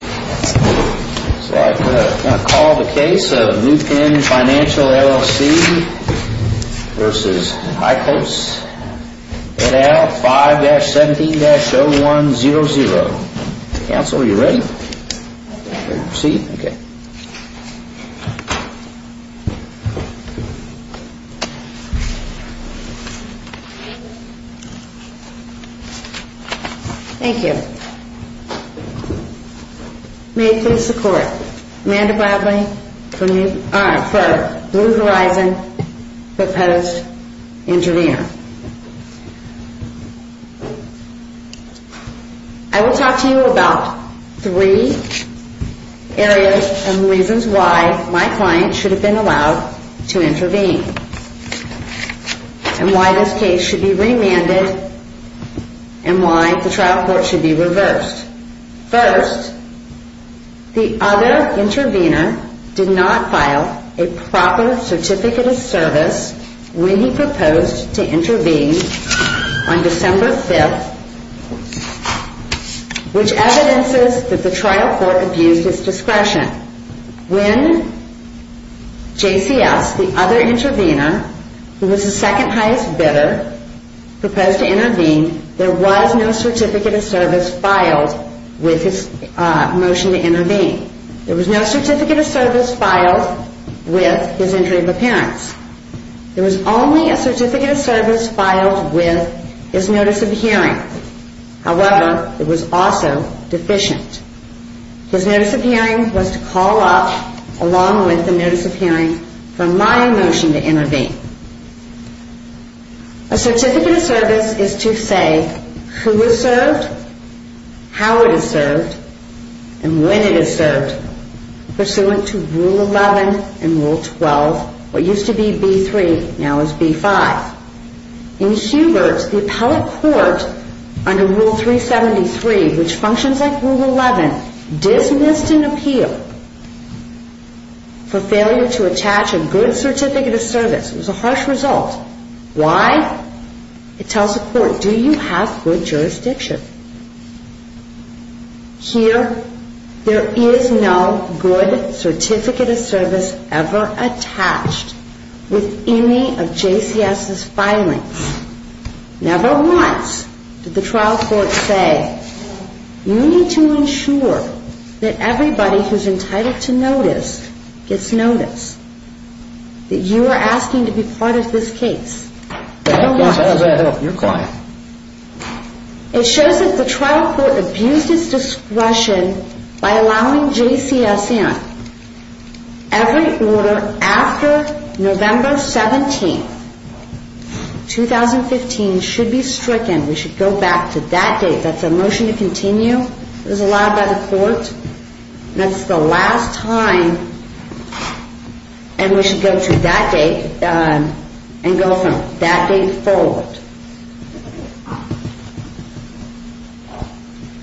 So I'm going to call the case of New Penn Financial, LLC v. Eichholz Ed Al 5-17-0100 Counsel, are you ready? Ready to proceed? Okay. Thank you. May it please the court, Amanda Bradley for Blue Horizon proposed intervener. I will talk to you about three areas and reasons why my client should have been allowed to intervene and why this case should be remanded and why the trial court should be reversed. First, the other intervener did not file a proper certificate of service when he proposed to intervene on December 5th which evidences that the trial court abused his discretion. When JCS, the other intervener, who was the second highest bidder, proposed to intervene, there was no certificate of service filed with his motion to intervene. There was no certificate of service filed with his injury of appearance. There was only a certificate of service filed with his notice of hearing. However, it was also deficient. His notice of hearing was to call up, along with the notice of hearing, for my motion to intervene. A certificate of service is to say who is served, how it is served, and when it is served, pursuant to Rule 11 and Rule 12, what used to be B3, now is B5. In Hubert's, the appellate court, under Rule 373, which functions like Rule 11, dismissed an appeal for failure to attach a good certificate of service. It was a harsh result. Why? It tells the court, do you have good jurisdiction? Here, there is no good certificate of service ever attached with any of JCS's filings. Never once did the trial court say, you need to ensure that everybody who is entitled to notice gets notice, that you are asking to be part of this case. Never once. How does that help your client? It shows that the trial court abused its discretion by allowing JCS in. Every order after November 17, 2015, should be stricken. We should go back to that date. That's a motion to continue. It was allowed by the court. That's the last time. And we should go to that date and go from that date forward.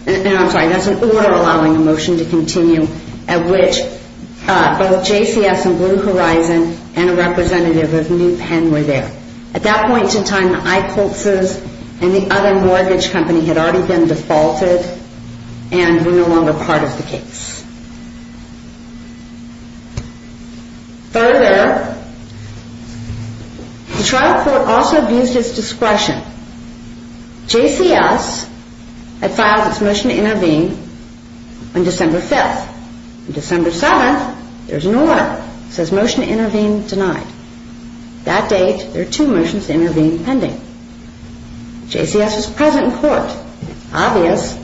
And I'm sorry, that's an order allowing a motion to continue at which both JCS and Blue Horizon and a representative of New Penn were there. At that point in time, the I-Colts and the other mortgage company had already been defaulted and were no longer part of the case. Further, the trial court also abused its discretion. JCS had filed its motion to intervene on December 5. On December 7, there's an order that says motion to intervene denied. That date, there are two motions to intervene pending. JCS was present in court. Obvious,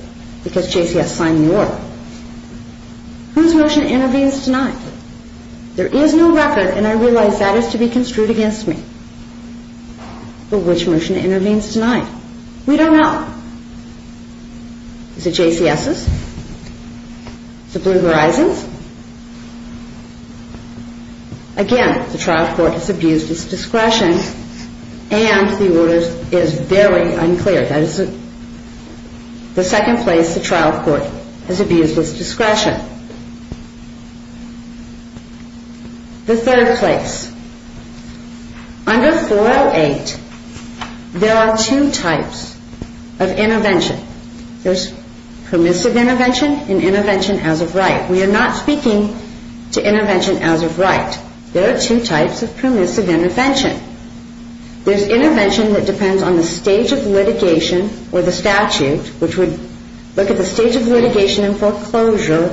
because JCS signed the order. Whose motion intervenes denied? There is no record, and I realize that is to be construed against me. But which motion intervenes denied? We don't know. Is it JCS's? Is it Blue Horizon's? Again, the trial court has abused its discretion, and the order is very unclear. That is the second place the trial court has abused its discretion. The third place. Under 408, there are two types of intervention. There's permissive intervention and intervention as of right. We are not speaking to intervention as of right. There are two types of permissive intervention. There's intervention that depends on the stage of litigation or the statute, which would look at the stage of litigation and foreclosure,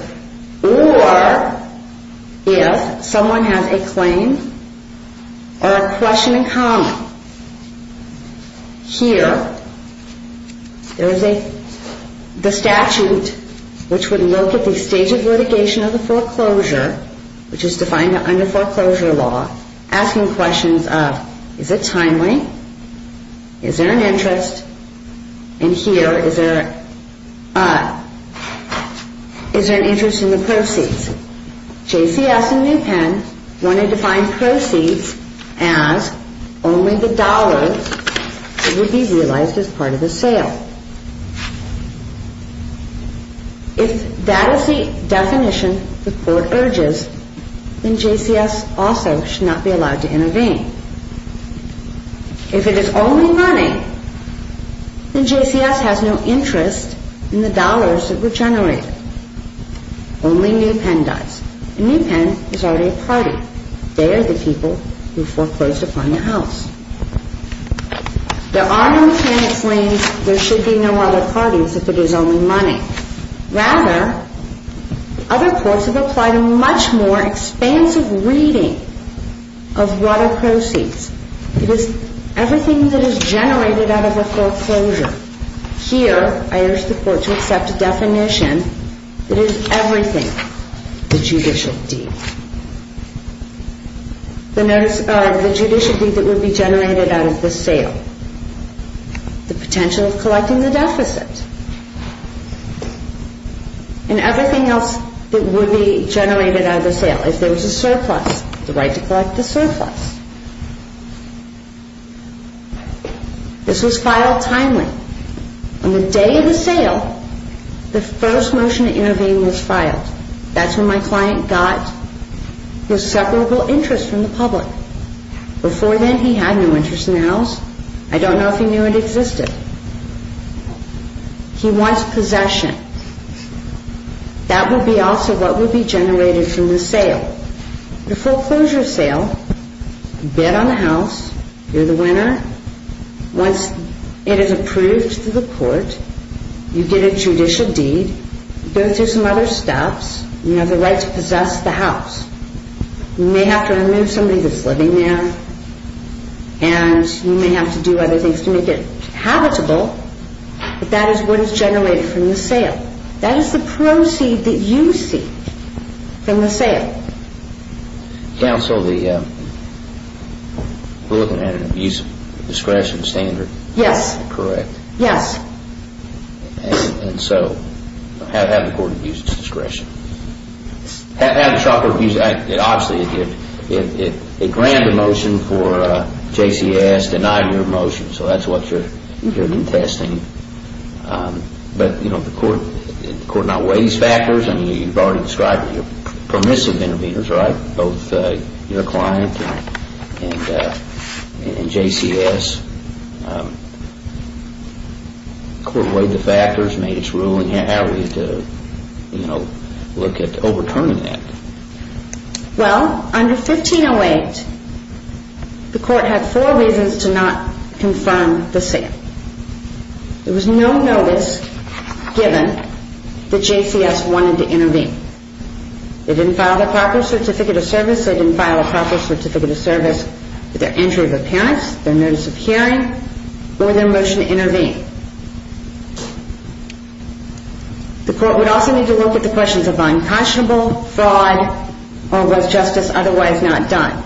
or if someone has a claim or a question in common. Here, there is the statute which would look at the stage of litigation or the foreclosure, which is defined under foreclosure law, asking questions of is it timely? Is there an interest? And here, is there an interest in the proceeds? JCS and New Pen wanted to find proceeds as only the dollars that would be realized as part of the sale. If that is the definition the court urges, then JCS also should not be allowed to intervene. If it is only money, then JCS has no interest in the dollars that were generated. Only New Pen does. And New Pen is already a party. They are the people who foreclosed upon the house. There are no claims there should be no other parties if it is only money. Rather, other courts have applied a much more expansive reading of what are proceeds. It is everything that is generated out of a foreclosure. Here, I urge the court to accept a definition that is everything the judicial deed. The judicial deed that would be generated out of the sale. The potential of collecting the deficit. And everything else that would be generated out of the sale. If there was a surplus, the right to collect the surplus. This was filed timely. On the day of the sale, the first motion to intervene was filed. That is when my client got his separable interest from the public. Before then, he had no interest in the house. I don't know if he knew it existed. He wants possession. That would be also what would be generated from the sale. The foreclosure sale. You bid on the house. You're the winner. Once it is approved to the court, you get a judicial deed. You go through some other steps. You have the right to possess the house. You may have to remove somebody that's living there. And you may have to do other things to make it habitable. But that is what is generated from the sale. That is the proceed that you seek from the sale. Counsel, we're looking at an abuse of discretion standard. Yes. Correct. Yes. And so, have the court abuse its discretion. Have the shopper abuse it. Obviously, it granted a motion for JCS, denied your motion. So that's what you're interested in. But, you know, the court now weighs factors. I mean, you've already described permissive interveners, right, both your client and JCS. The court weighed the factors, made its ruling. How are we to, you know, look at overturning that? Well, under 1508, the court had four reasons to not confirm the sale. There was no notice given that JCS wanted to intervene. They didn't file a proper certificate of service. They didn't file a proper certificate of service with their entry of appearance, their notice of hearing, or their motion to intervene. The court would also need to look at the questions of unconscionable, fraud, or was justice otherwise not done.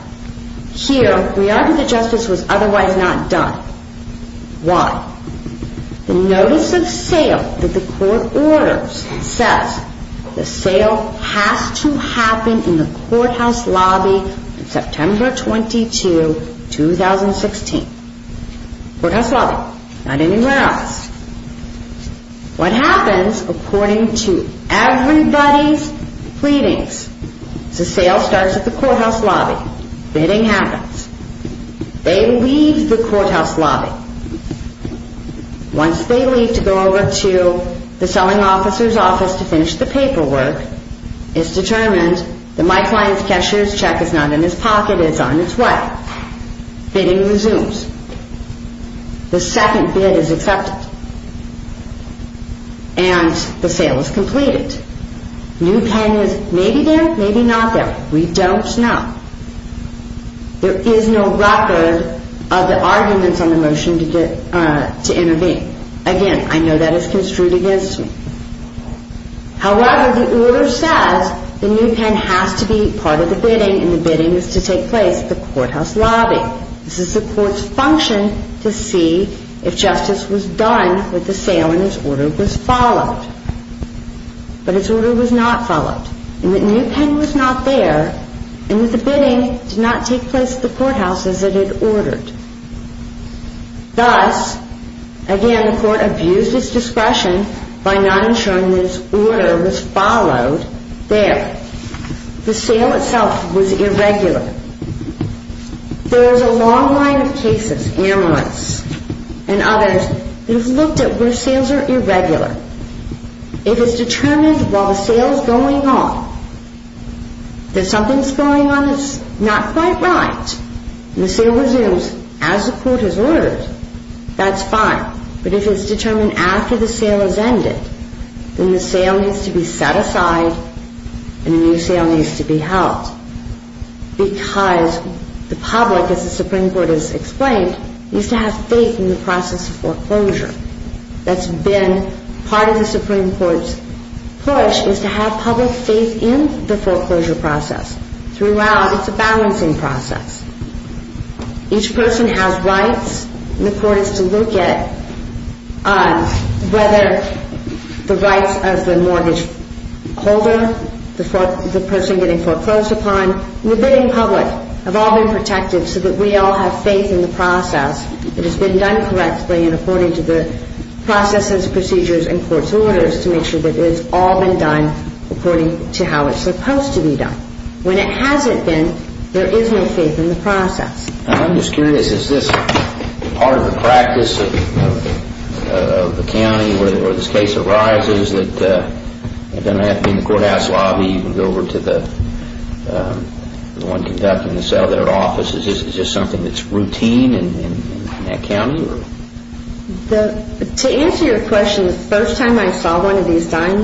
Here, we argue that justice was otherwise not done. Why? The notice of sale that the court orders says the sale has to happen in the courthouse lobby on September 22, 2016. Courthouse lobby, not anywhere else. What happens, according to everybody's pleadings, is the sale starts at the courthouse lobby. Bidding happens. They leave the courthouse lobby. Once they leave to go over to the selling officer's office to finish the paperwork, it's determined that my client's cashier's check is not in his pocket, it's on its way. Bidding resumes. The second bid is accepted. And the sale is completed. New pen is maybe there, maybe not there. We don't know. There is no record of the arguments on the motion to intervene. Again, I know that is construed against me. However, the order says the new pen has to be part of the bidding, and the bidding is to take place at the courthouse lobby. This is the court's function to see if justice was done with the sale and its order was followed. But its order was not followed. And that new pen was not there, and that the bidding did not take place at the courthouse as it had ordered. Thus, again, the court abused its discretion by not ensuring that its order was followed there. The sale itself was irregular. There is a long line of cases, amulets and others, that have looked at where sales are irregular. If it's determined while the sale is going on that something's going on that's not quite right, and the sale resumes as the court has ordered, that's fine. But if it's determined after the sale has ended, then the sale needs to be set aside and a new sale needs to be held. Because the public, as the Supreme Court has explained, needs to have faith in the process of foreclosure. That's been part of the Supreme Court's push, is to have public faith in the foreclosure process. Throughout, it's a balancing process. Each person has rights, and the court has to look at whether the rights of the mortgage holder, the person getting foreclosed upon, and the bidding public have all been protected so that we all have faith in the process, that it's been done correctly, and according to the processes, procedures, and court's orders, to make sure that it's all been done according to how it's supposed to be done. When it hasn't been, there is no faith in the process. I'm just curious, is this part of the practice of the county where this case arises, that then I have to be in the courthouse lobby and go over to the one conducting the sale, that our office is just something that's routine in that county? To answer your question, the first time I saw one of these done,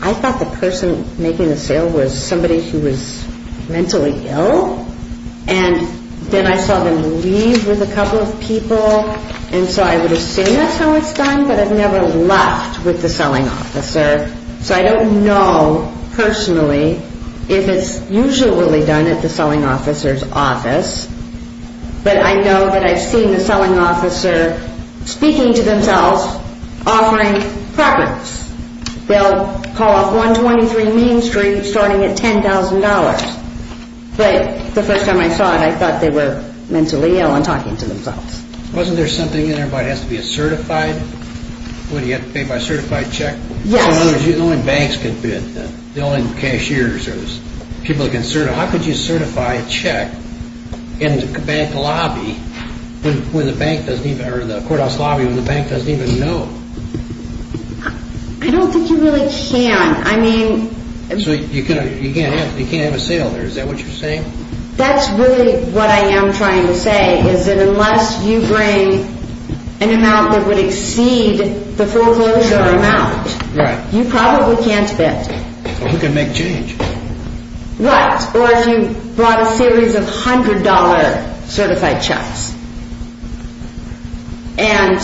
I thought the person making the sale was somebody who was mentally ill, and then I saw them leave with a couple of people, and so I would assume that's how it's done, but I've never left with the selling officer, so I don't know personally if it's usually done at the selling officer's office, but I know that I've seen the selling officer speaking to themselves, offering preference. They'll call off 123 Main Street starting at $10,000, but the first time I saw it, I thought they were mentally ill and talking to themselves. Wasn't there something in there where it has to be a certified, where you have to pay by a certified check? Yes. So in other words, the only banks can bid, the only cashiers, people who can certify, how could you certify a check in the bank lobby when the bank doesn't even, or the courthouse lobby when the bank doesn't even know? I don't think you really can. So you can't have a sale there, is that what you're saying? That's really what I am trying to say, is that unless you bring an amount that would exceed the foreclosure amount, you probably can't bid. Well, who can make change? What? Or if you brought a series of $100 certified checks and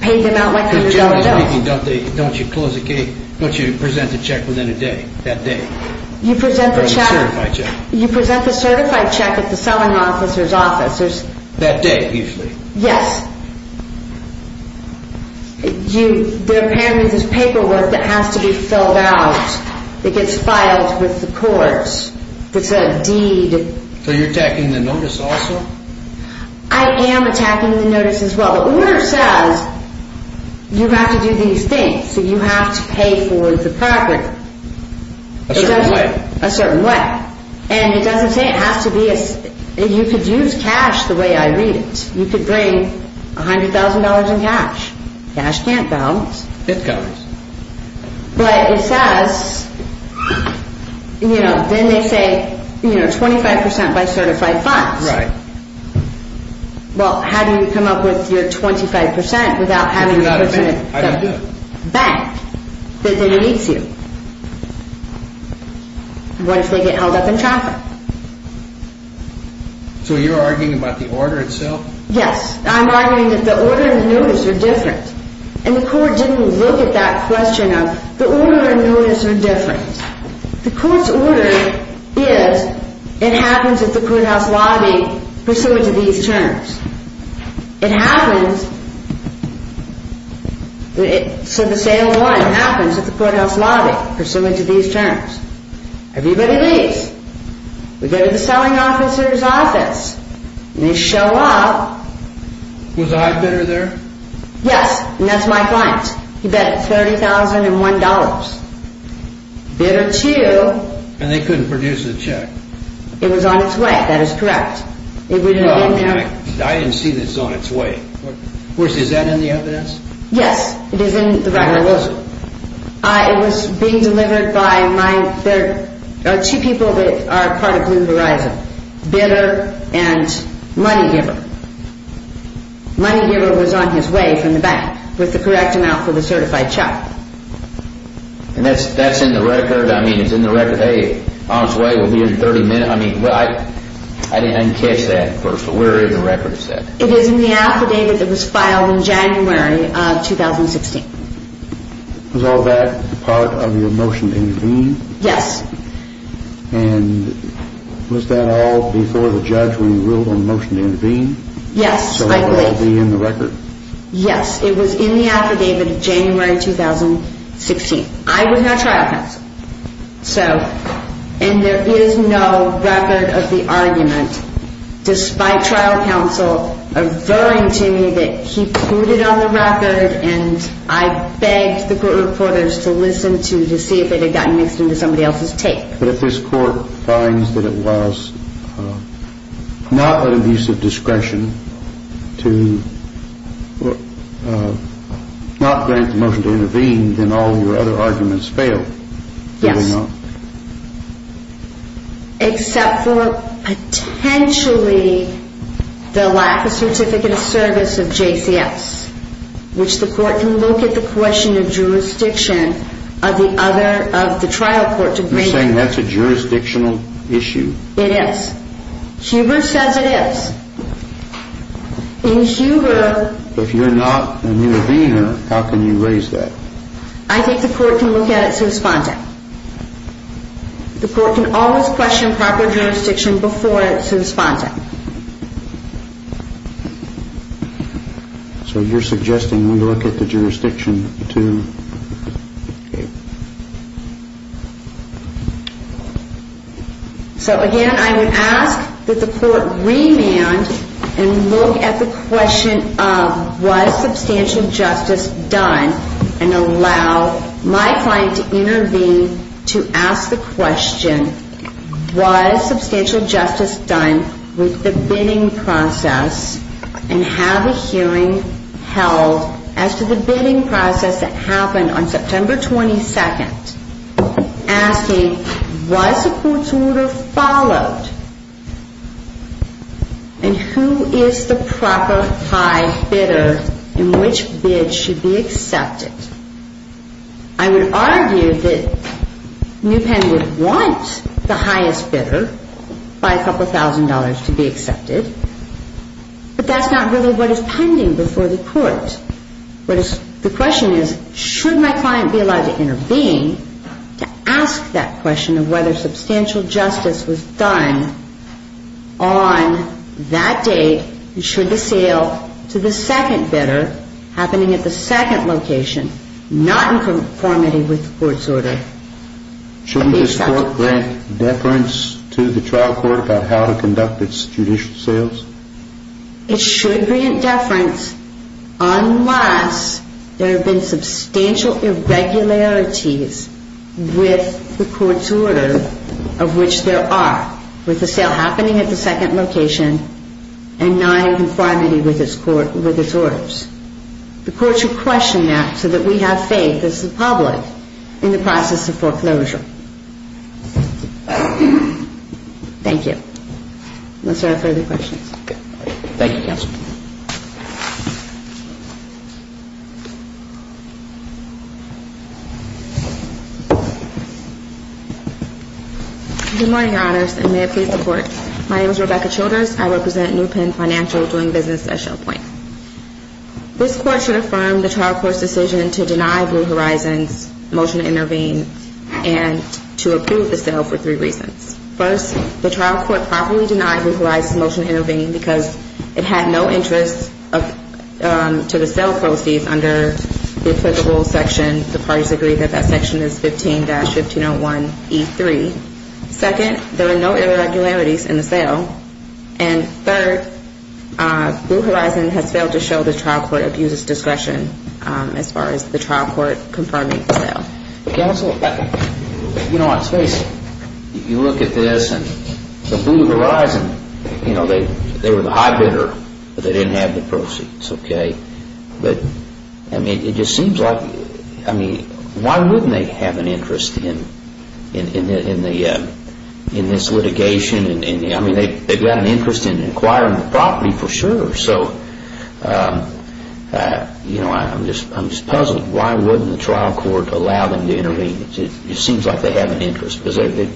paid them out like you usually do. Don't you present the check within a day, that day? Or a certified check? You present the certified check at the selling officer's office. That day, usually? Yes. They're paying you this paperwork that has to be filled out, that gets filed with the courts, that's a deed. So you're attacking the notice also? I am attacking the notice as well. The order says you have to do these things, so you have to pay for the property. A certain way? A certain way. And it doesn't say it has to be... You could use cash the way I read it. You could bring $100,000 in cash. Cash can't bounce. It bounces. But it says... Then they say 25% by certified funds. Right. Well, how do you come up with your 25% without having the person at the bank that then meets you? What if they get held up in traffic? So you're arguing about the order itself? Yes. I'm arguing that the order and the notice are different. And the court didn't look at that question of the order and notice are different. The court's order is it happens at the courthouse lobby pursuant to these terms. It happens... So the sale 1 happens at the courthouse lobby pursuant to these terms. Everybody leaves. We go to the selling officer's office. They show up. Was I bidder there? Yes, and that's my client. He bet $30,001. Bidder 2... And they couldn't produce a check. It was on its way. That is correct. I didn't see that it was on its way. Is that in the evidence? Yes, it is in the record. Where was it? It was being delivered by my... There are two people that are part of Blue Horizon. Bidder and money giver. Money giver was on his way from the bank with the correct amount for the certified check. And that's in the record? I mean, it's in the record. Hey, on its way. We'll be here in 30 minutes. I didn't catch that first. Where is the record set? It is in the affidavit that was filed in January of 2016. Was all that part of your motion to intervene? Yes. And was that all before the judge when you ruled on the motion to intervene? Yes, I believe. So it will all be in the record? Yes. It was in the affidavit of January 2016. I was not trial counsel. So, and there is no record of the argument despite trial counsel avowing to me that he put it on the record and I begged the court reporters to listen to to see if it had gotten mixed into somebody else's tape. But if this court finds that it was not an abuse of discretion to not grant the motion to intervene, then all of your other arguments failed. Yes. Except for potentially the lack of certificate of service of JCS, which the court can look at the question of jurisdiction of the trial court to bring it. You're saying that's a jurisdictional issue? It is. Huber says it is. In Huber... If you're not an intervener, how can you raise that? I think the court can look at it to respond to it. The court can always question proper jurisdiction before it's responding. So you're suggesting we look at the jurisdiction to... So again, I would ask that the court remand and look at the question of was substantial justice done and allow my client to intervene to ask the question, was substantial justice done with the bidding process and have a hearing held as to the bidding process that happened on September 22nd, asking was a court's order followed and who is the proper high bidder and which bid should be accepted. I would argue that NewPen would want the highest bidder by a couple thousand dollars to be accepted, but that's not really what is pending before the court. The question is should my client be allowed to intervene to ask that question of whether substantial justice was done on that date and should the sale to the second bidder happening at the second location not in conformity with the court's order be accepted. Shouldn't this court grant deference to the trial court about how to conduct its judicial sales? It should grant deference unless there have been substantial irregularities with the court's order of which there are, with the sale happening at the second location and not in conformity with its orders. The court should question that so that we have faith as the public in the process of foreclosure. Thank you. Unless there are further questions. Thank you, Counsel. Good morning, Your Honors, and may it please the Court. My name is Rebecca Childers. I represent NewPen Financial doing business at Shell Point. This Court should affirm the trial court's decision to deny Blue Horizons' motion to intervene and to approve the sale for three reasons. First, the trial court properly denied Blue Horizons' motion to intervene because it had no interest to the sale proceeds under the applicable section. The parties agree that that section is 15-1501E3. Second, there are no irregularities in the sale. And third, Blue Horizons has failed to show the trial court abuser's discretion as far as the trial court confirming the sale. Counsel, you know, let's face it. You look at this and the Blue Horizons, you know, they were the high bidder, but they didn't have the proceeds, okay? But, I mean, it just seems like, I mean, why wouldn't they have an interest in this litigation? I mean, they've got an interest in acquiring the property for sure. So, you know, I'm just puzzled. Why wouldn't the trial court allow them to intervene? It seems like they have an interest because they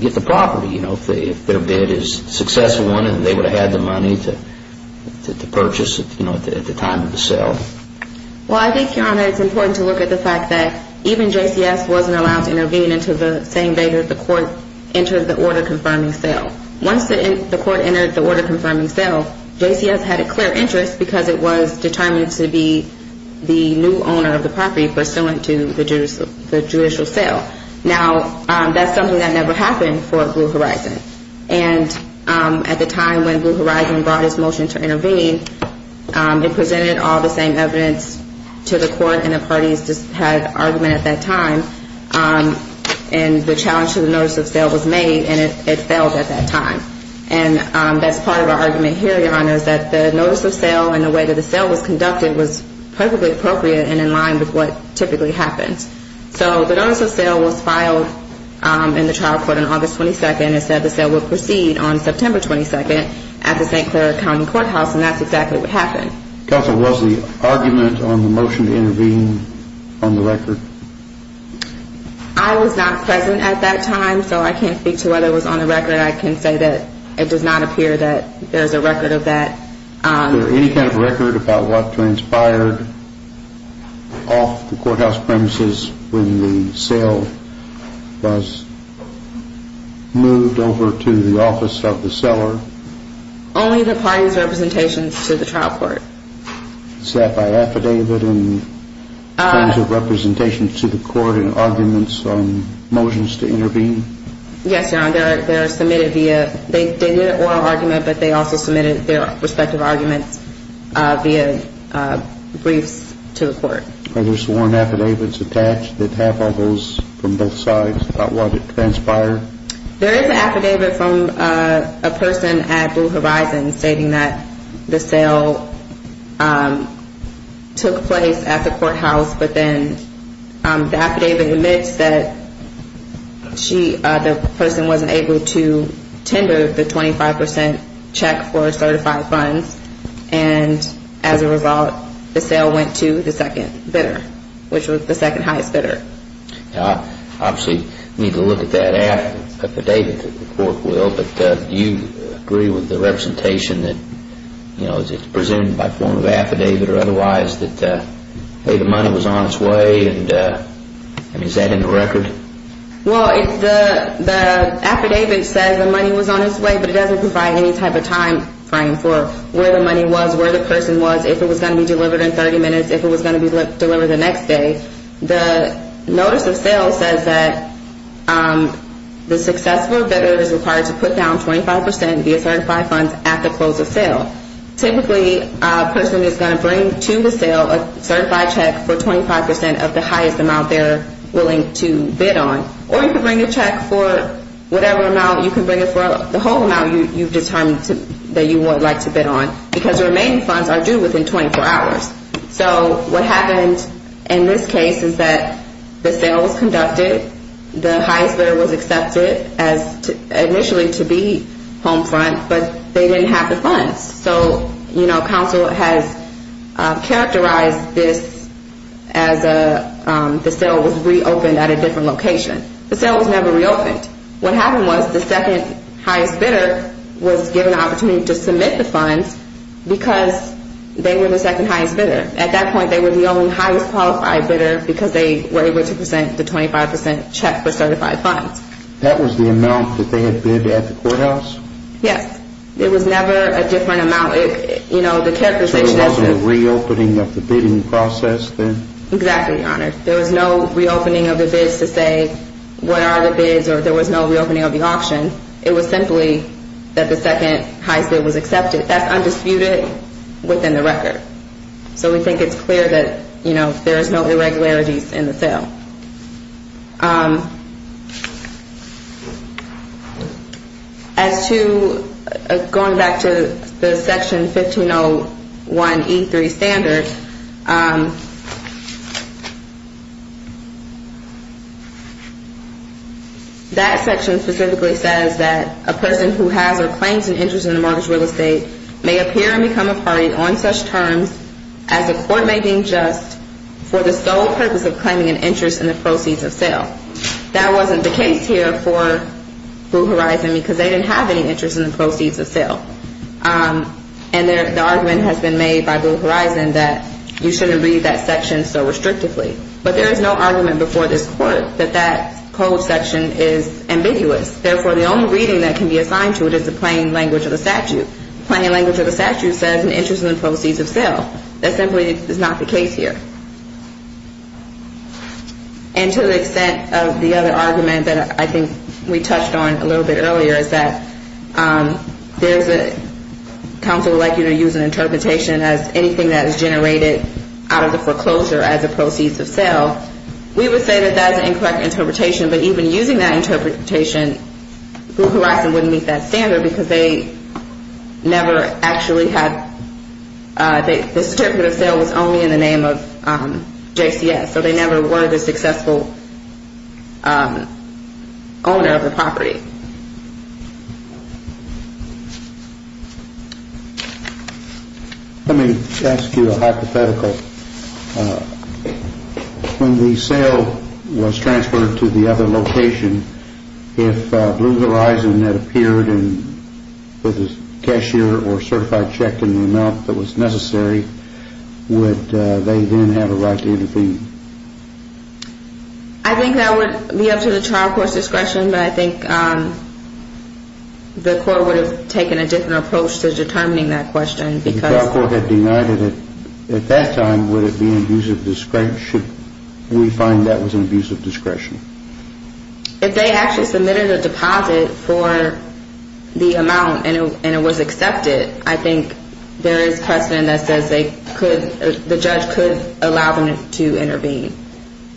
get the property, you know, if their bid is successful they would have had the money to purchase, you know, at the time of the sale. Well, I think, Your Honor, it's important to look at the fact that even JCS wasn't allowed to intervene until the same day that the court entered the order confirming sale. Once the court entered the order confirming sale, JCS had a clear interest because it was determined to be the new owner of the property pursuant to the judicial sale. Now, that's something that never happened for Blue Horizons. And at the time when Blue Horizons brought its motion to intervene, it presented all the same evidence to the court, and the parties had argument at that time. And the challenge to the notice of sale was made, and it failed at that time. And that's part of our argument here, Your Honor, is that the notice of sale and the way that the sale was conducted was perfectly appropriate and in line with what typically happens. So the notice of sale was filed in the trial court on August 22nd and said the sale would proceed on September 22nd at the St. Clair County Courthouse, and that's exactly what happened. Counsel, was the argument on the motion to intervene on the record? I was not present at that time, so I can't speak to whether it was on the record. But I can say that it does not appear that there's a record of that. Was there any kind of record about what transpired off the courthouse premises when the sale was moved over to the office of the seller? Only the parties' representations to the trial court. Was that by affidavit in terms of representations to the court and arguments on motions to intervene? Yes, Your Honor, they're submitted via, they did an oral argument, but they also submitted their respective arguments via briefs to the court. Are there sworn affidavits attached that have all those from both sides about what transpired? There is an affidavit from a person at Blue Horizon stating that the sale took place at the courthouse, but then the affidavit admits that the person wasn't able to tender the 25% check for a certified fund, and as a result, the sale went to the second bidder, which was the second highest bidder. Obviously, we need to look at that affidavit that the court will, but do you agree with the representation that, you know, is it presumed by form of affidavit or otherwise that, hey, the money was on its way, and is that in the record? Well, the affidavit says the money was on its way, but it doesn't provide any type of timeframe for where the money was, where the person was, if it was going to be delivered in 30 minutes, if it was going to be delivered the next day. The notice of sale says that the successful bidder is required to put down 25% via certified funds at the close of sale. Typically, a person is going to bring to the sale a certified check for 25% of the highest amount they're willing to bid on, or you can bring a check for whatever amount. You can bring it for the whole amount you've determined that you would like to bid on, because the remaining funds are due within 24 hours. So what happened in this case is that the sale was conducted, the highest bidder was accepted as initially to be home front, but they didn't have the funds. So, you know, counsel has characterized this as the sale was reopened at a different location. The sale was never reopened. What happened was the second highest bidder was given the opportunity to submit the funds because they were the second highest bidder. At that point, they were the only highest qualified bidder because they were able to present the 25% check for certified funds. That was the amount that they had bid at the courthouse? Yes. It was never a different amount. So there wasn't a reopening of the bidding process then? Exactly, Your Honor. There was no reopening of the bids to say what are the bids, or there was no reopening of the auction. It was simply that the second highest bid was accepted. That's undisputed within the record. So we think it's clear that, you know, there is no irregularities in the sale. As to going back to the Section 1501E3 standard, that section specifically says that a person who has or claims an interest in a mortgage real estate may appear and become a party on such terms as a court making just for the sole purpose of claiming an interest in a mortgage real estate. That wasn't the case here for Blue Horizon because they didn't have any interest in the proceeds of sale. And the argument has been made by Blue Horizon that you shouldn't read that section so restrictively. But there is no argument before this Court that that code section is ambiguous. Therefore, the only reading that can be assigned to it is the plain language of the statute. The plain language of the statute says an interest in the proceeds of sale. That simply is not the case here. And to the extent of the other argument that I think we touched on a little bit earlier is that there's a counsel likely to use an interpretation as anything that is generated out of the foreclosure as a proceeds of sale. We would say that that is an incorrect interpretation, but even using that interpretation, Blue Horizon wouldn't meet that standard because they never actually had the distributive sale was only in the name of the proceeds of sale. So they never were the successful owner of the property. Let me ask you a hypothetical. When the sale was transferred to the other location, if Blue Horizon had appeared with a cashier or certified check in the amount that was necessary, would they then have a right to intervene? I think that would be up to the trial court's discretion, but I think the court would have taken a different approach to determining that question. If the trial court had denied it at that time, would it be an abuse of discretion? We find that was an abuse of discretion. If they actually submitted a deposit for the amount and it was accepted, I think there is precedent that says the judge could allow them to intervene,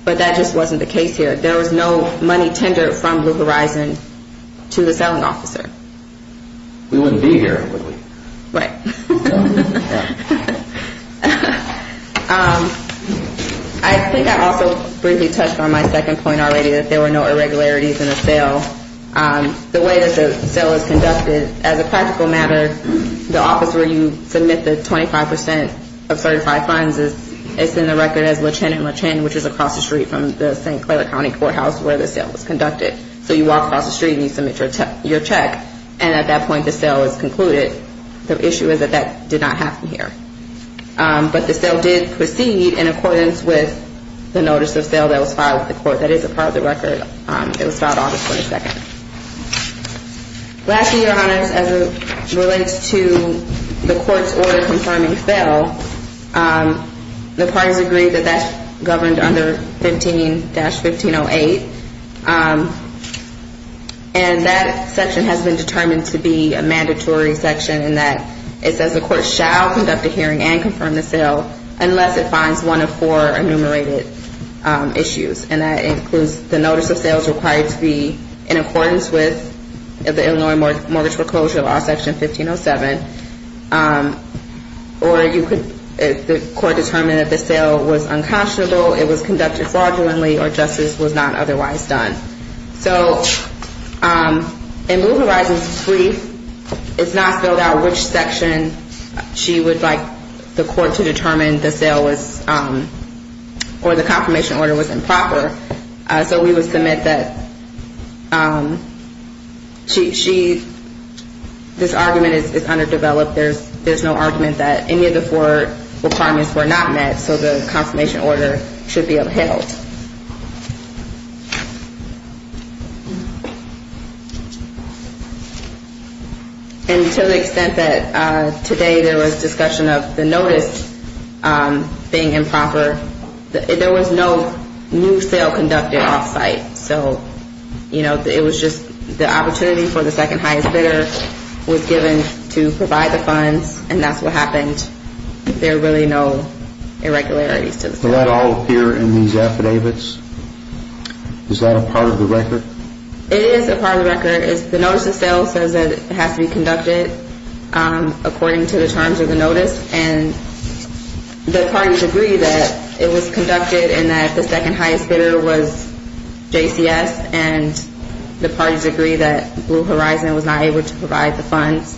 but that just wasn't the case here. There was no money tendered from Blue Horizon to the selling officer. We wouldn't be here, would we? I think I also briefly touched on my second point already, that there were no irregularities in the sale. The way that the sale was conducted, as a practical matter, the office where you submit the 25% of certified funds, it's in the record as Lechen and Lechen, which is across the street from the St. Clair County Courthouse where the sale was conducted. So you walk across the street and you submit your check, and at that point the sale is concluded. The issue is that that did not happen here. But the sale did proceed in accordance with the notice of sale that was filed with the court. That is a part of the record. It was filed August 22nd. Lastly, Your Honors, as it relates to the court's order confirming the sale, the parties agree that that's governed under 15-1508. And that section has been determined to be a mandatory section in that it says the court shall conduct a hearing and confirm the sale unless it finds one of four enumerated issues. And that includes the notice of sales required to be in accordance with the Illinois Mortgage Foreclosure Law, Section 1507. Or you could, if the court determined that the sale was unconscionable, it was conducted fraudulently, or justice was not otherwise done. So in Moving Horizons 3, it's not filled out which section she would like the court to determine, when the sale was, or the confirmation order was improper. So we would submit that she, this argument is underdeveloped. There's no argument that any of the four requirements were not met, so the confirmation order should be upheld. And to the extent that today there was discussion of the notice being improper, there was no new sale conducted off-site. So, you know, it was just the opportunity for the second highest bidder was given to provide the funds, and that's what happened. And there are really no irregularities to the sale. Does that all appear in these affidavits? Is that a part of the record? It is a part of the record. The notice of sales says that it has to be conducted according to the terms of the notice. And the parties agree that it was conducted and that the second highest bidder was JCS, and the parties agree that Blue Horizon was not able to provide the funds.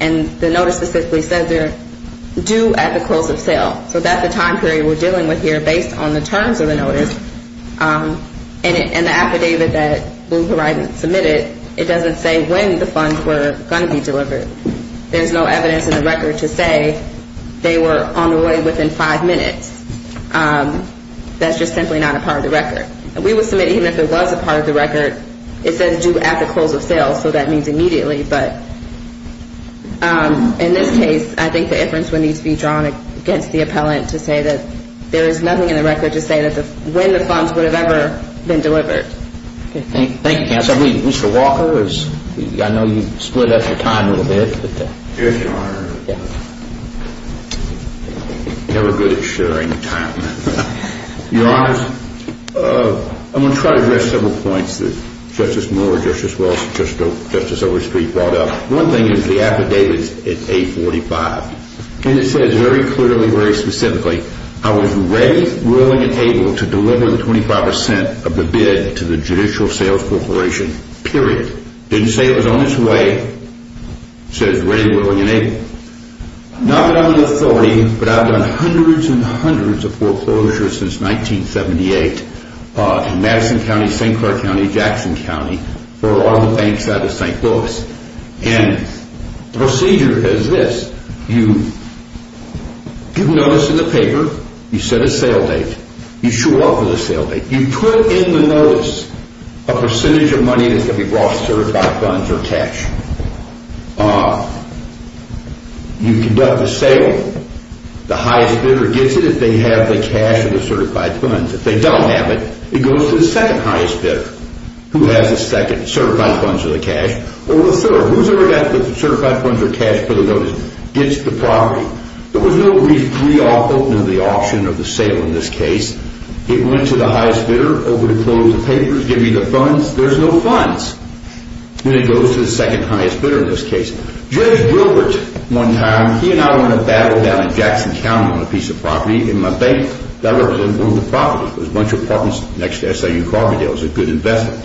And the notice specifically says they're due at the close of sale. So that's the time period we're dealing with here based on the terms of the notice. And the affidavit that Blue Horizon submitted, it doesn't say when the funds were going to be delivered. There's no evidence in the record to say they were on the way within five minutes. That's just simply not a part of the record. We would submit even if it was a part of the record, it says due at the close of sale, so that means immediately. But in this case, I think the inference would need to be drawn against the appellant to say that there is nothing in the record to say when the funds would have ever been delivered. Thank you, counsel. I believe Mr. Walker, I know you split up your time a little bit. Yes, Your Honor. I'm never good at sharing time. Your Honor, I'm going to try to address several points that Justice Miller and Justice Overstreet brought up. One thing is the affidavit is A45, and it says very clearly, very specifically, I was ready, willing, and able to deliver the 25 percent of the bid to the Judicial Sales Corporation, period. Didn't say it was on its way. Says ready, willing, and able. Not that I'm an authority, but I've done hundreds and hundreds of foreclosures since 1978 in Madison County, St. Clair County, Jackson County, for all the banks out of St. Louis. And the procedure is this. You give notice in the paper. You set a sale date. You show up with a sale date. You put in the notice a percentage of money that's going to be brought to certified funds or cash. You conduct the sale. The highest bidder gets it if they have the cash or the certified funds. If they don't have it, it goes to the second highest bidder, who has the second certified funds or the cash, or the third, who's ever got the certified funds or cash for the notice, gets the property. There was no brief re-opening of the auction or the sale in this case. It went to the highest bidder over to close the papers, give you the funds. There's no funds when it goes to the second highest bidder in this case. Judge Gilbert, one time, he and I were in a battle down in Jackson County on a piece of property in my bank. I was involved with property. It was a bunch of apartments next to SIU Carbondale. It was a good investment.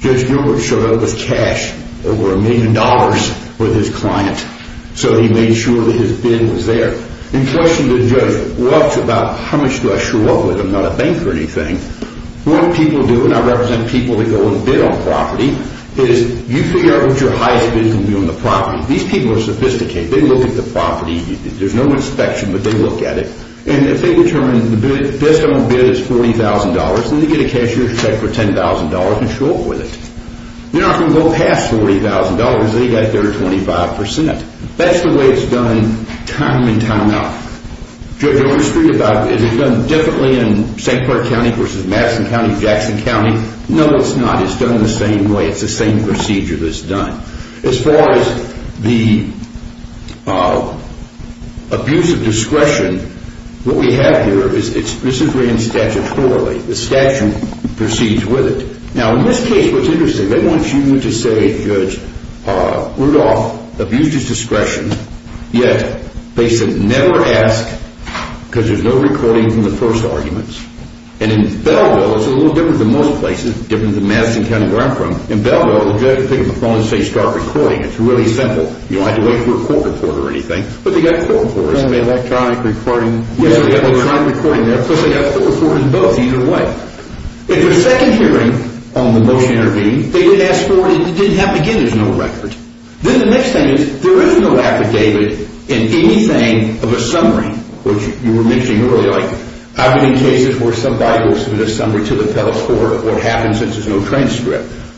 Judge Gilbert showed up with cash, over a million dollars, with his client. So he made sure that his bid was there. In question to the judge, what about how much do I show up with? I'm not a bank or anything. What people do, and I represent people that go and bid on property, is you figure out what your highest bid is going to be on the property. These people are sophisticated. They look at the property. There's no inspection, but they look at it. If they determine the best I'm going to bid is $40,000, then they get a cashier's check for $10,000 and show up with it. You're not going to go past $40,000 because they got their 25%. That's the way it's done time and time out. Is it done differently in St. Clark County versus Madison County, Jackson County? No, it's not. It's done the same way. It's the same procedure that's done. As far as the abuse of discretion, what we have here is this is ran statutorily. The statute proceeds with it. In this case, what's interesting, they want you to say, Judge Rudolph abused his discretion, yet they said never ask because there's no recording from the first arguments. In Belleville, it's a little different than most places, different than Madison County where I'm from. In Belleville, the judge will pick up the phone and say start recording. It's really simple. You don't have to wait for a court report or anything, but they got court reports. There's no electronic recording. If there's a second hearing on the motion to intervene, they did ask for it and it didn't happen again. There's no record. Then the next thing is there is no affidavit in anything of a summary, which you were mentioning earlier.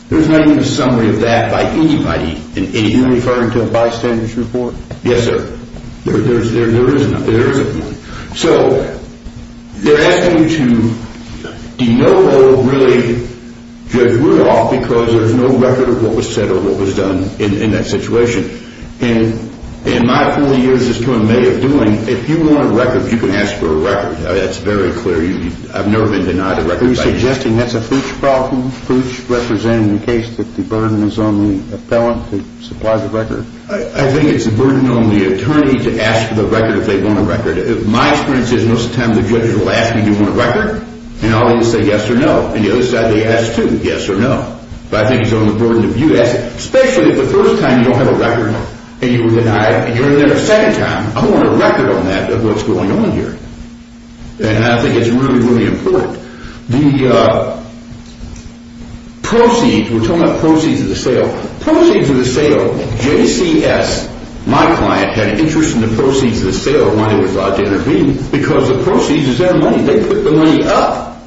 There's not even a summary of that by anybody in anything. Are you referring to a bystander's report? Yes, sir. There is one. They're asking you to de novo really, Judge Rudolph, because there's no record of what was said or what was done in that situation. In my 40 years as to what I'm made of doing, if you want a record, you can ask for a record. That's very clear. I've never been denied a record by you. Are you suggesting that's a fooch problem, fooch representing the case that the burden is on the appellant to supply the record? I think it's a burden on the attorney to ask for the record if they want a record. My experience is most of the time the judge will ask you if you want a record, and I'll either say yes or no. And the other side, they ask too, yes or no. But I think it's on the burden of you asking, especially if the first time you don't have a record and you were denied and you're in there a second time. I want a record on that, of what's going on here. And I think it's really, really important. The proceeds, we're talking about proceeds of the sale. Proceeds of the sale, JCS, my client, had an interest in the proceeds of the sale when he was allowed to intervene because the proceeds is their money. They put the money up.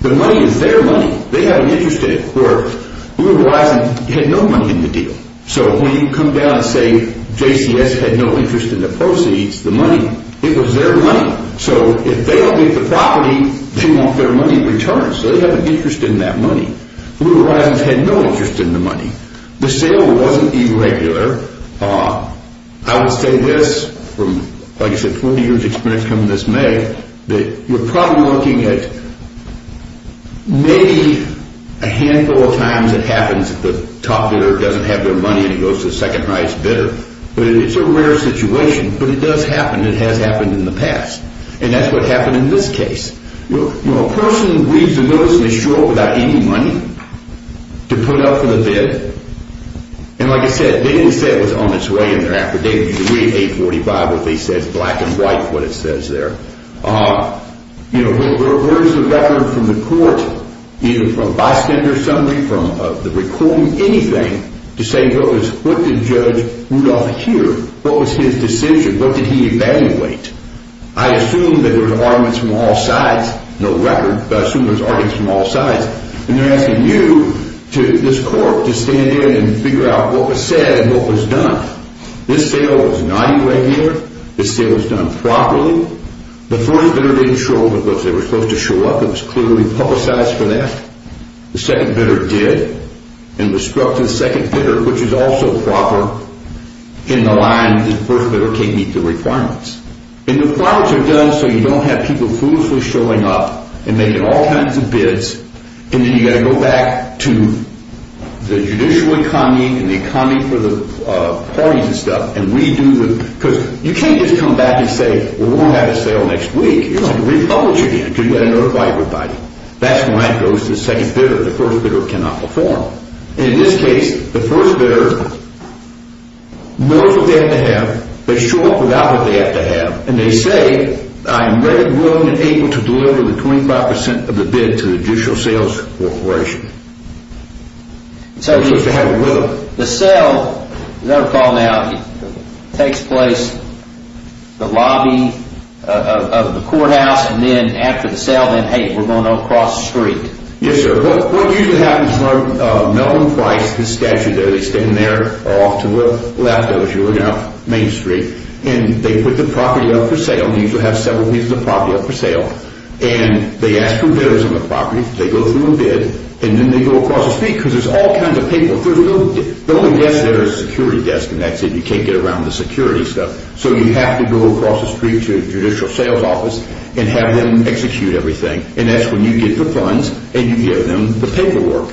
The money is their money. They have an interest in it, where Blue Horizons had no money in the deal. So when you come down and say JCS had no interest in the proceeds, the money, it was their money. So if they don't get the property, they want their money in return, so they have an interest in that money. Blue Horizons had no interest in the money. The sale wasn't irregular. I would say this from, like I said, 40 years' experience coming this May, that you're probably looking at maybe a handful of times it happens that the top bidder doesn't have their money and it goes to the second highest bidder. But it's a rare situation. But it does happen. It has happened in the past. And that's what happened in this case. A person reads the notice and they show up without any money to put up for the bid. And like I said, they didn't say it was on its way in their affidavit. You read 845, what they said is black and white, what it says there. There were words of record from the court, either from bystanders, somebody from the recording, anything, to say what did Judge Rudolph hear? What was his decision? What did he evaluate? I assume that there were arguments from all sides. No record, but I assume there were arguments from all sides. And they're asking you, this court, to stand in and figure out what was said and what was done. This sale was not irregular. This sale was done properly. The first bidder didn't show up because they were supposed to show up. It was clearly publicized for that. The second bidder did and was struck to the second bidder, which is also proper in the line that the first bidder can't meet the requirements. And the requirements are done so you don't have people foolishly showing up and making all kinds of bids. And then you've got to go back to the judicial economy and the economy for the parties and stuff. And we do the – because you can't just come back and say, well, we'll have a sale next week. You've got to republish again because you've got to notify everybody. That's when it goes to the second bidder. The first bidder cannot perform. And in this case, the first bidder knows what they have to have. They show up without what they have to have. And they say, I am ready, willing, and able to deliver the 25 percent of the bid to the judicial sales corporation. They're supposed to have it with them. The sale, as I recall now, takes place at the lobby of the courthouse. And then after the sale, then, hey, we're going to go across the street. Yes, sir. What usually happens is when Melvin Price, his statue there, they stand there off to Lafayette, if you're looking out Main Street, and they put the property up for sale. They usually have several pieces of property up for sale. And they ask for bidders on the property. They go through a bid. And then they go across the street because there's all kinds of people. The only desk there is a security desk, and that's it. You can't get around the security stuff. So you have to go across the street to the judicial sales office and have them execute everything. And that's when you get the funds and you give them the paperwork.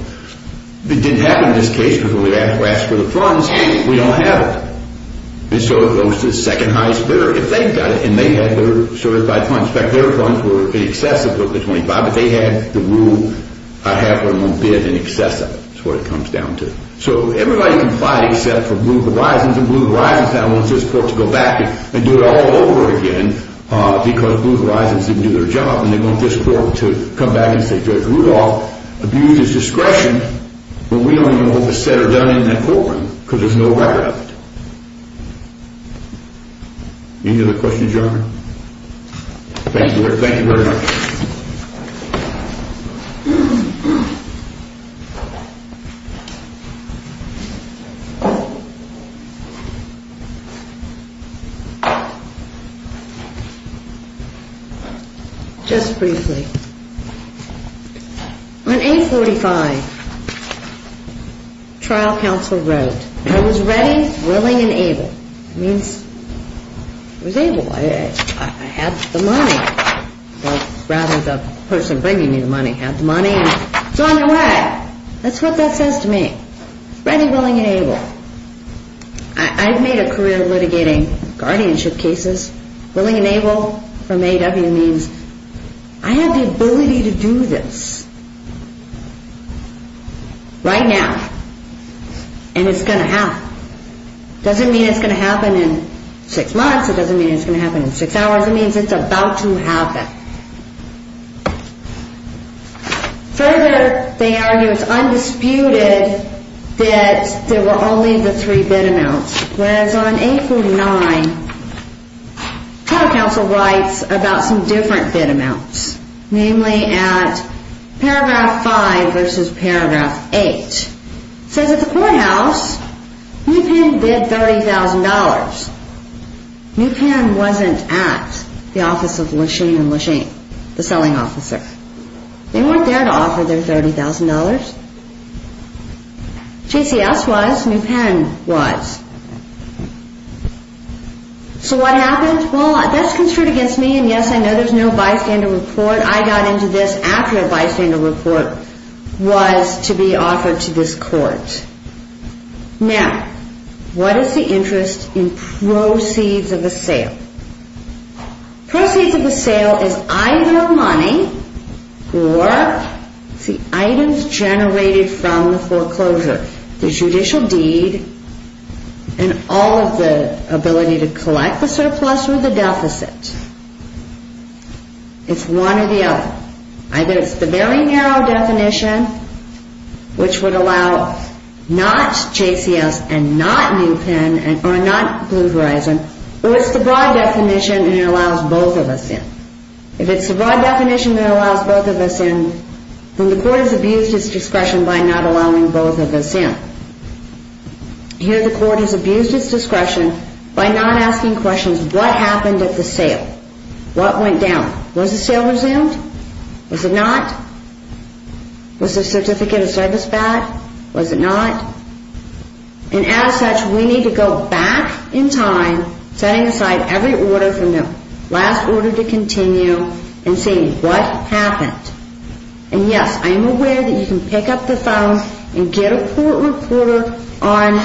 It didn't happen in this case because when we asked for the funds, we don't have it. And so it goes to the second highest bidder, if they've got it, and they had their certified funds. In fact, their funds were in excess of the 25, but they had the rule, I have one bid in excess of it. That's what it comes down to. So everybody complied except for Blue Horizons. And Blue Horizons now wants this court to go back and do it all over again because Blue Horizons didn't do their job. And they want this court to come back and say Judge Rudolph abused his discretion, but we don't even know what was said or done in that courtroom because there's no record of it. Any other questions, Your Honor? Thank you very much. Just briefly. On 845, trial counsel wrote, I was ready, willing, and able. It means I was able. I had the money. Rather the person bringing me the money had the money and it's on the way. That's what that says to me. Ready, willing, and able. I've made a career litigating guardianship cases. Willing and able from A.W. means I have the ability to do this right now. And it's going to happen. It doesn't mean it's going to happen in six months. It doesn't mean it's going to happen in six hours. It means it's about to happen. Further, they argue it's undisputed that there were only the three bid amounts, whereas on 849, trial counsel writes about some different bid amounts, namely at paragraph 5 versus paragraph 8. It says at the courthouse, New Pan bid $30,000. New Pan wasn't at the office of Lesheen and Lesheen, the selling officer. They weren't there to offer their $30,000. JCS was. New Pan was. So what happened? Well, that's construed against me, and, yes, I know there's no bystander report. I got into this after a bystander report was to be offered to this court. Now, what is the interest in proceeds of a sale? Proceeds of a sale is either money or the items generated from the foreclosure, the judicial deed and all of the ability to collect the surplus or the deficit. It's one or the other. Either it's the very narrow definition, which would allow not JCS and not New Pan or not Blue Horizon, or it's the broad definition and it allows both of us in. If it's the broad definition that allows both of us in, then the court has abused its discretion by not allowing both of us in. Here the court has abused its discretion by not asking questions. What happened at the sale? What went down? Was the sale resumed? Was it not? Was the certificate of service back? Was it not? And as such, we need to go back in time, setting aside every order from the last order to continue, and seeing what happened. And, yes, I am aware that you can pick up the phone and get a court reporter on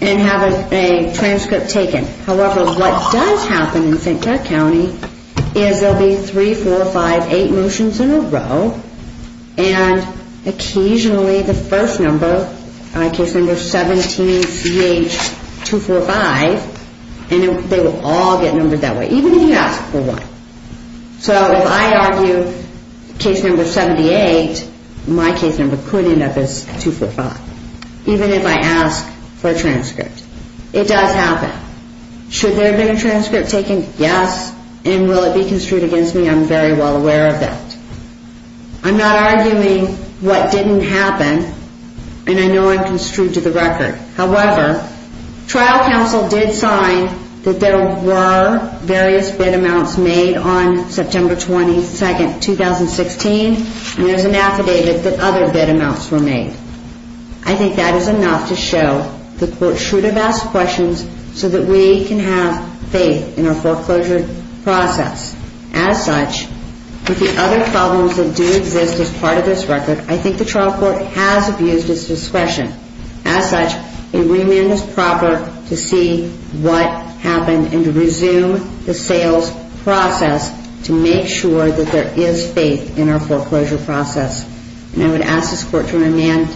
and have a transcript taken. However, what does happen in St. Clair County is there will be 3, 4, 5, 8 motions in a row, and occasionally the first number, case number 17CH245, and they will all get numbered that way, even if you ask for one. So if I argue case number 78, my case number could end up as 245, even if I ask for a transcript. It does happen. Should there have been a transcript taken? Yes. And will it be construed against me? I'm very well aware of that. I'm not arguing what didn't happen, and I know I'm construed to the record. However, trial counsel did sign that there were various bid amounts made on September 22, 2016, and there's an affidavit that other bid amounts were made. I think that is enough to show the court should have asked questions so that we can have faith in our foreclosure process. As such, with the other problems that do exist as part of this record, I think the trial court has abused its discretion. As such, a remand is proper to see what happened and to resume the sales process to make sure that there is faith in our foreclosure process. And I would ask this court to remand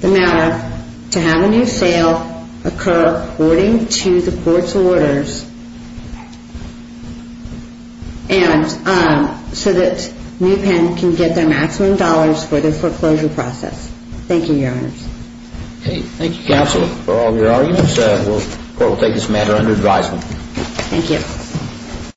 the matter to have a new sale occur according to the court's orders so that New Penn can get their maximum dollars for their foreclosure process. Thank you, Your Honors. Thank you, Counsel, for all of your arguments. The court will take this matter under advisement. Thank you.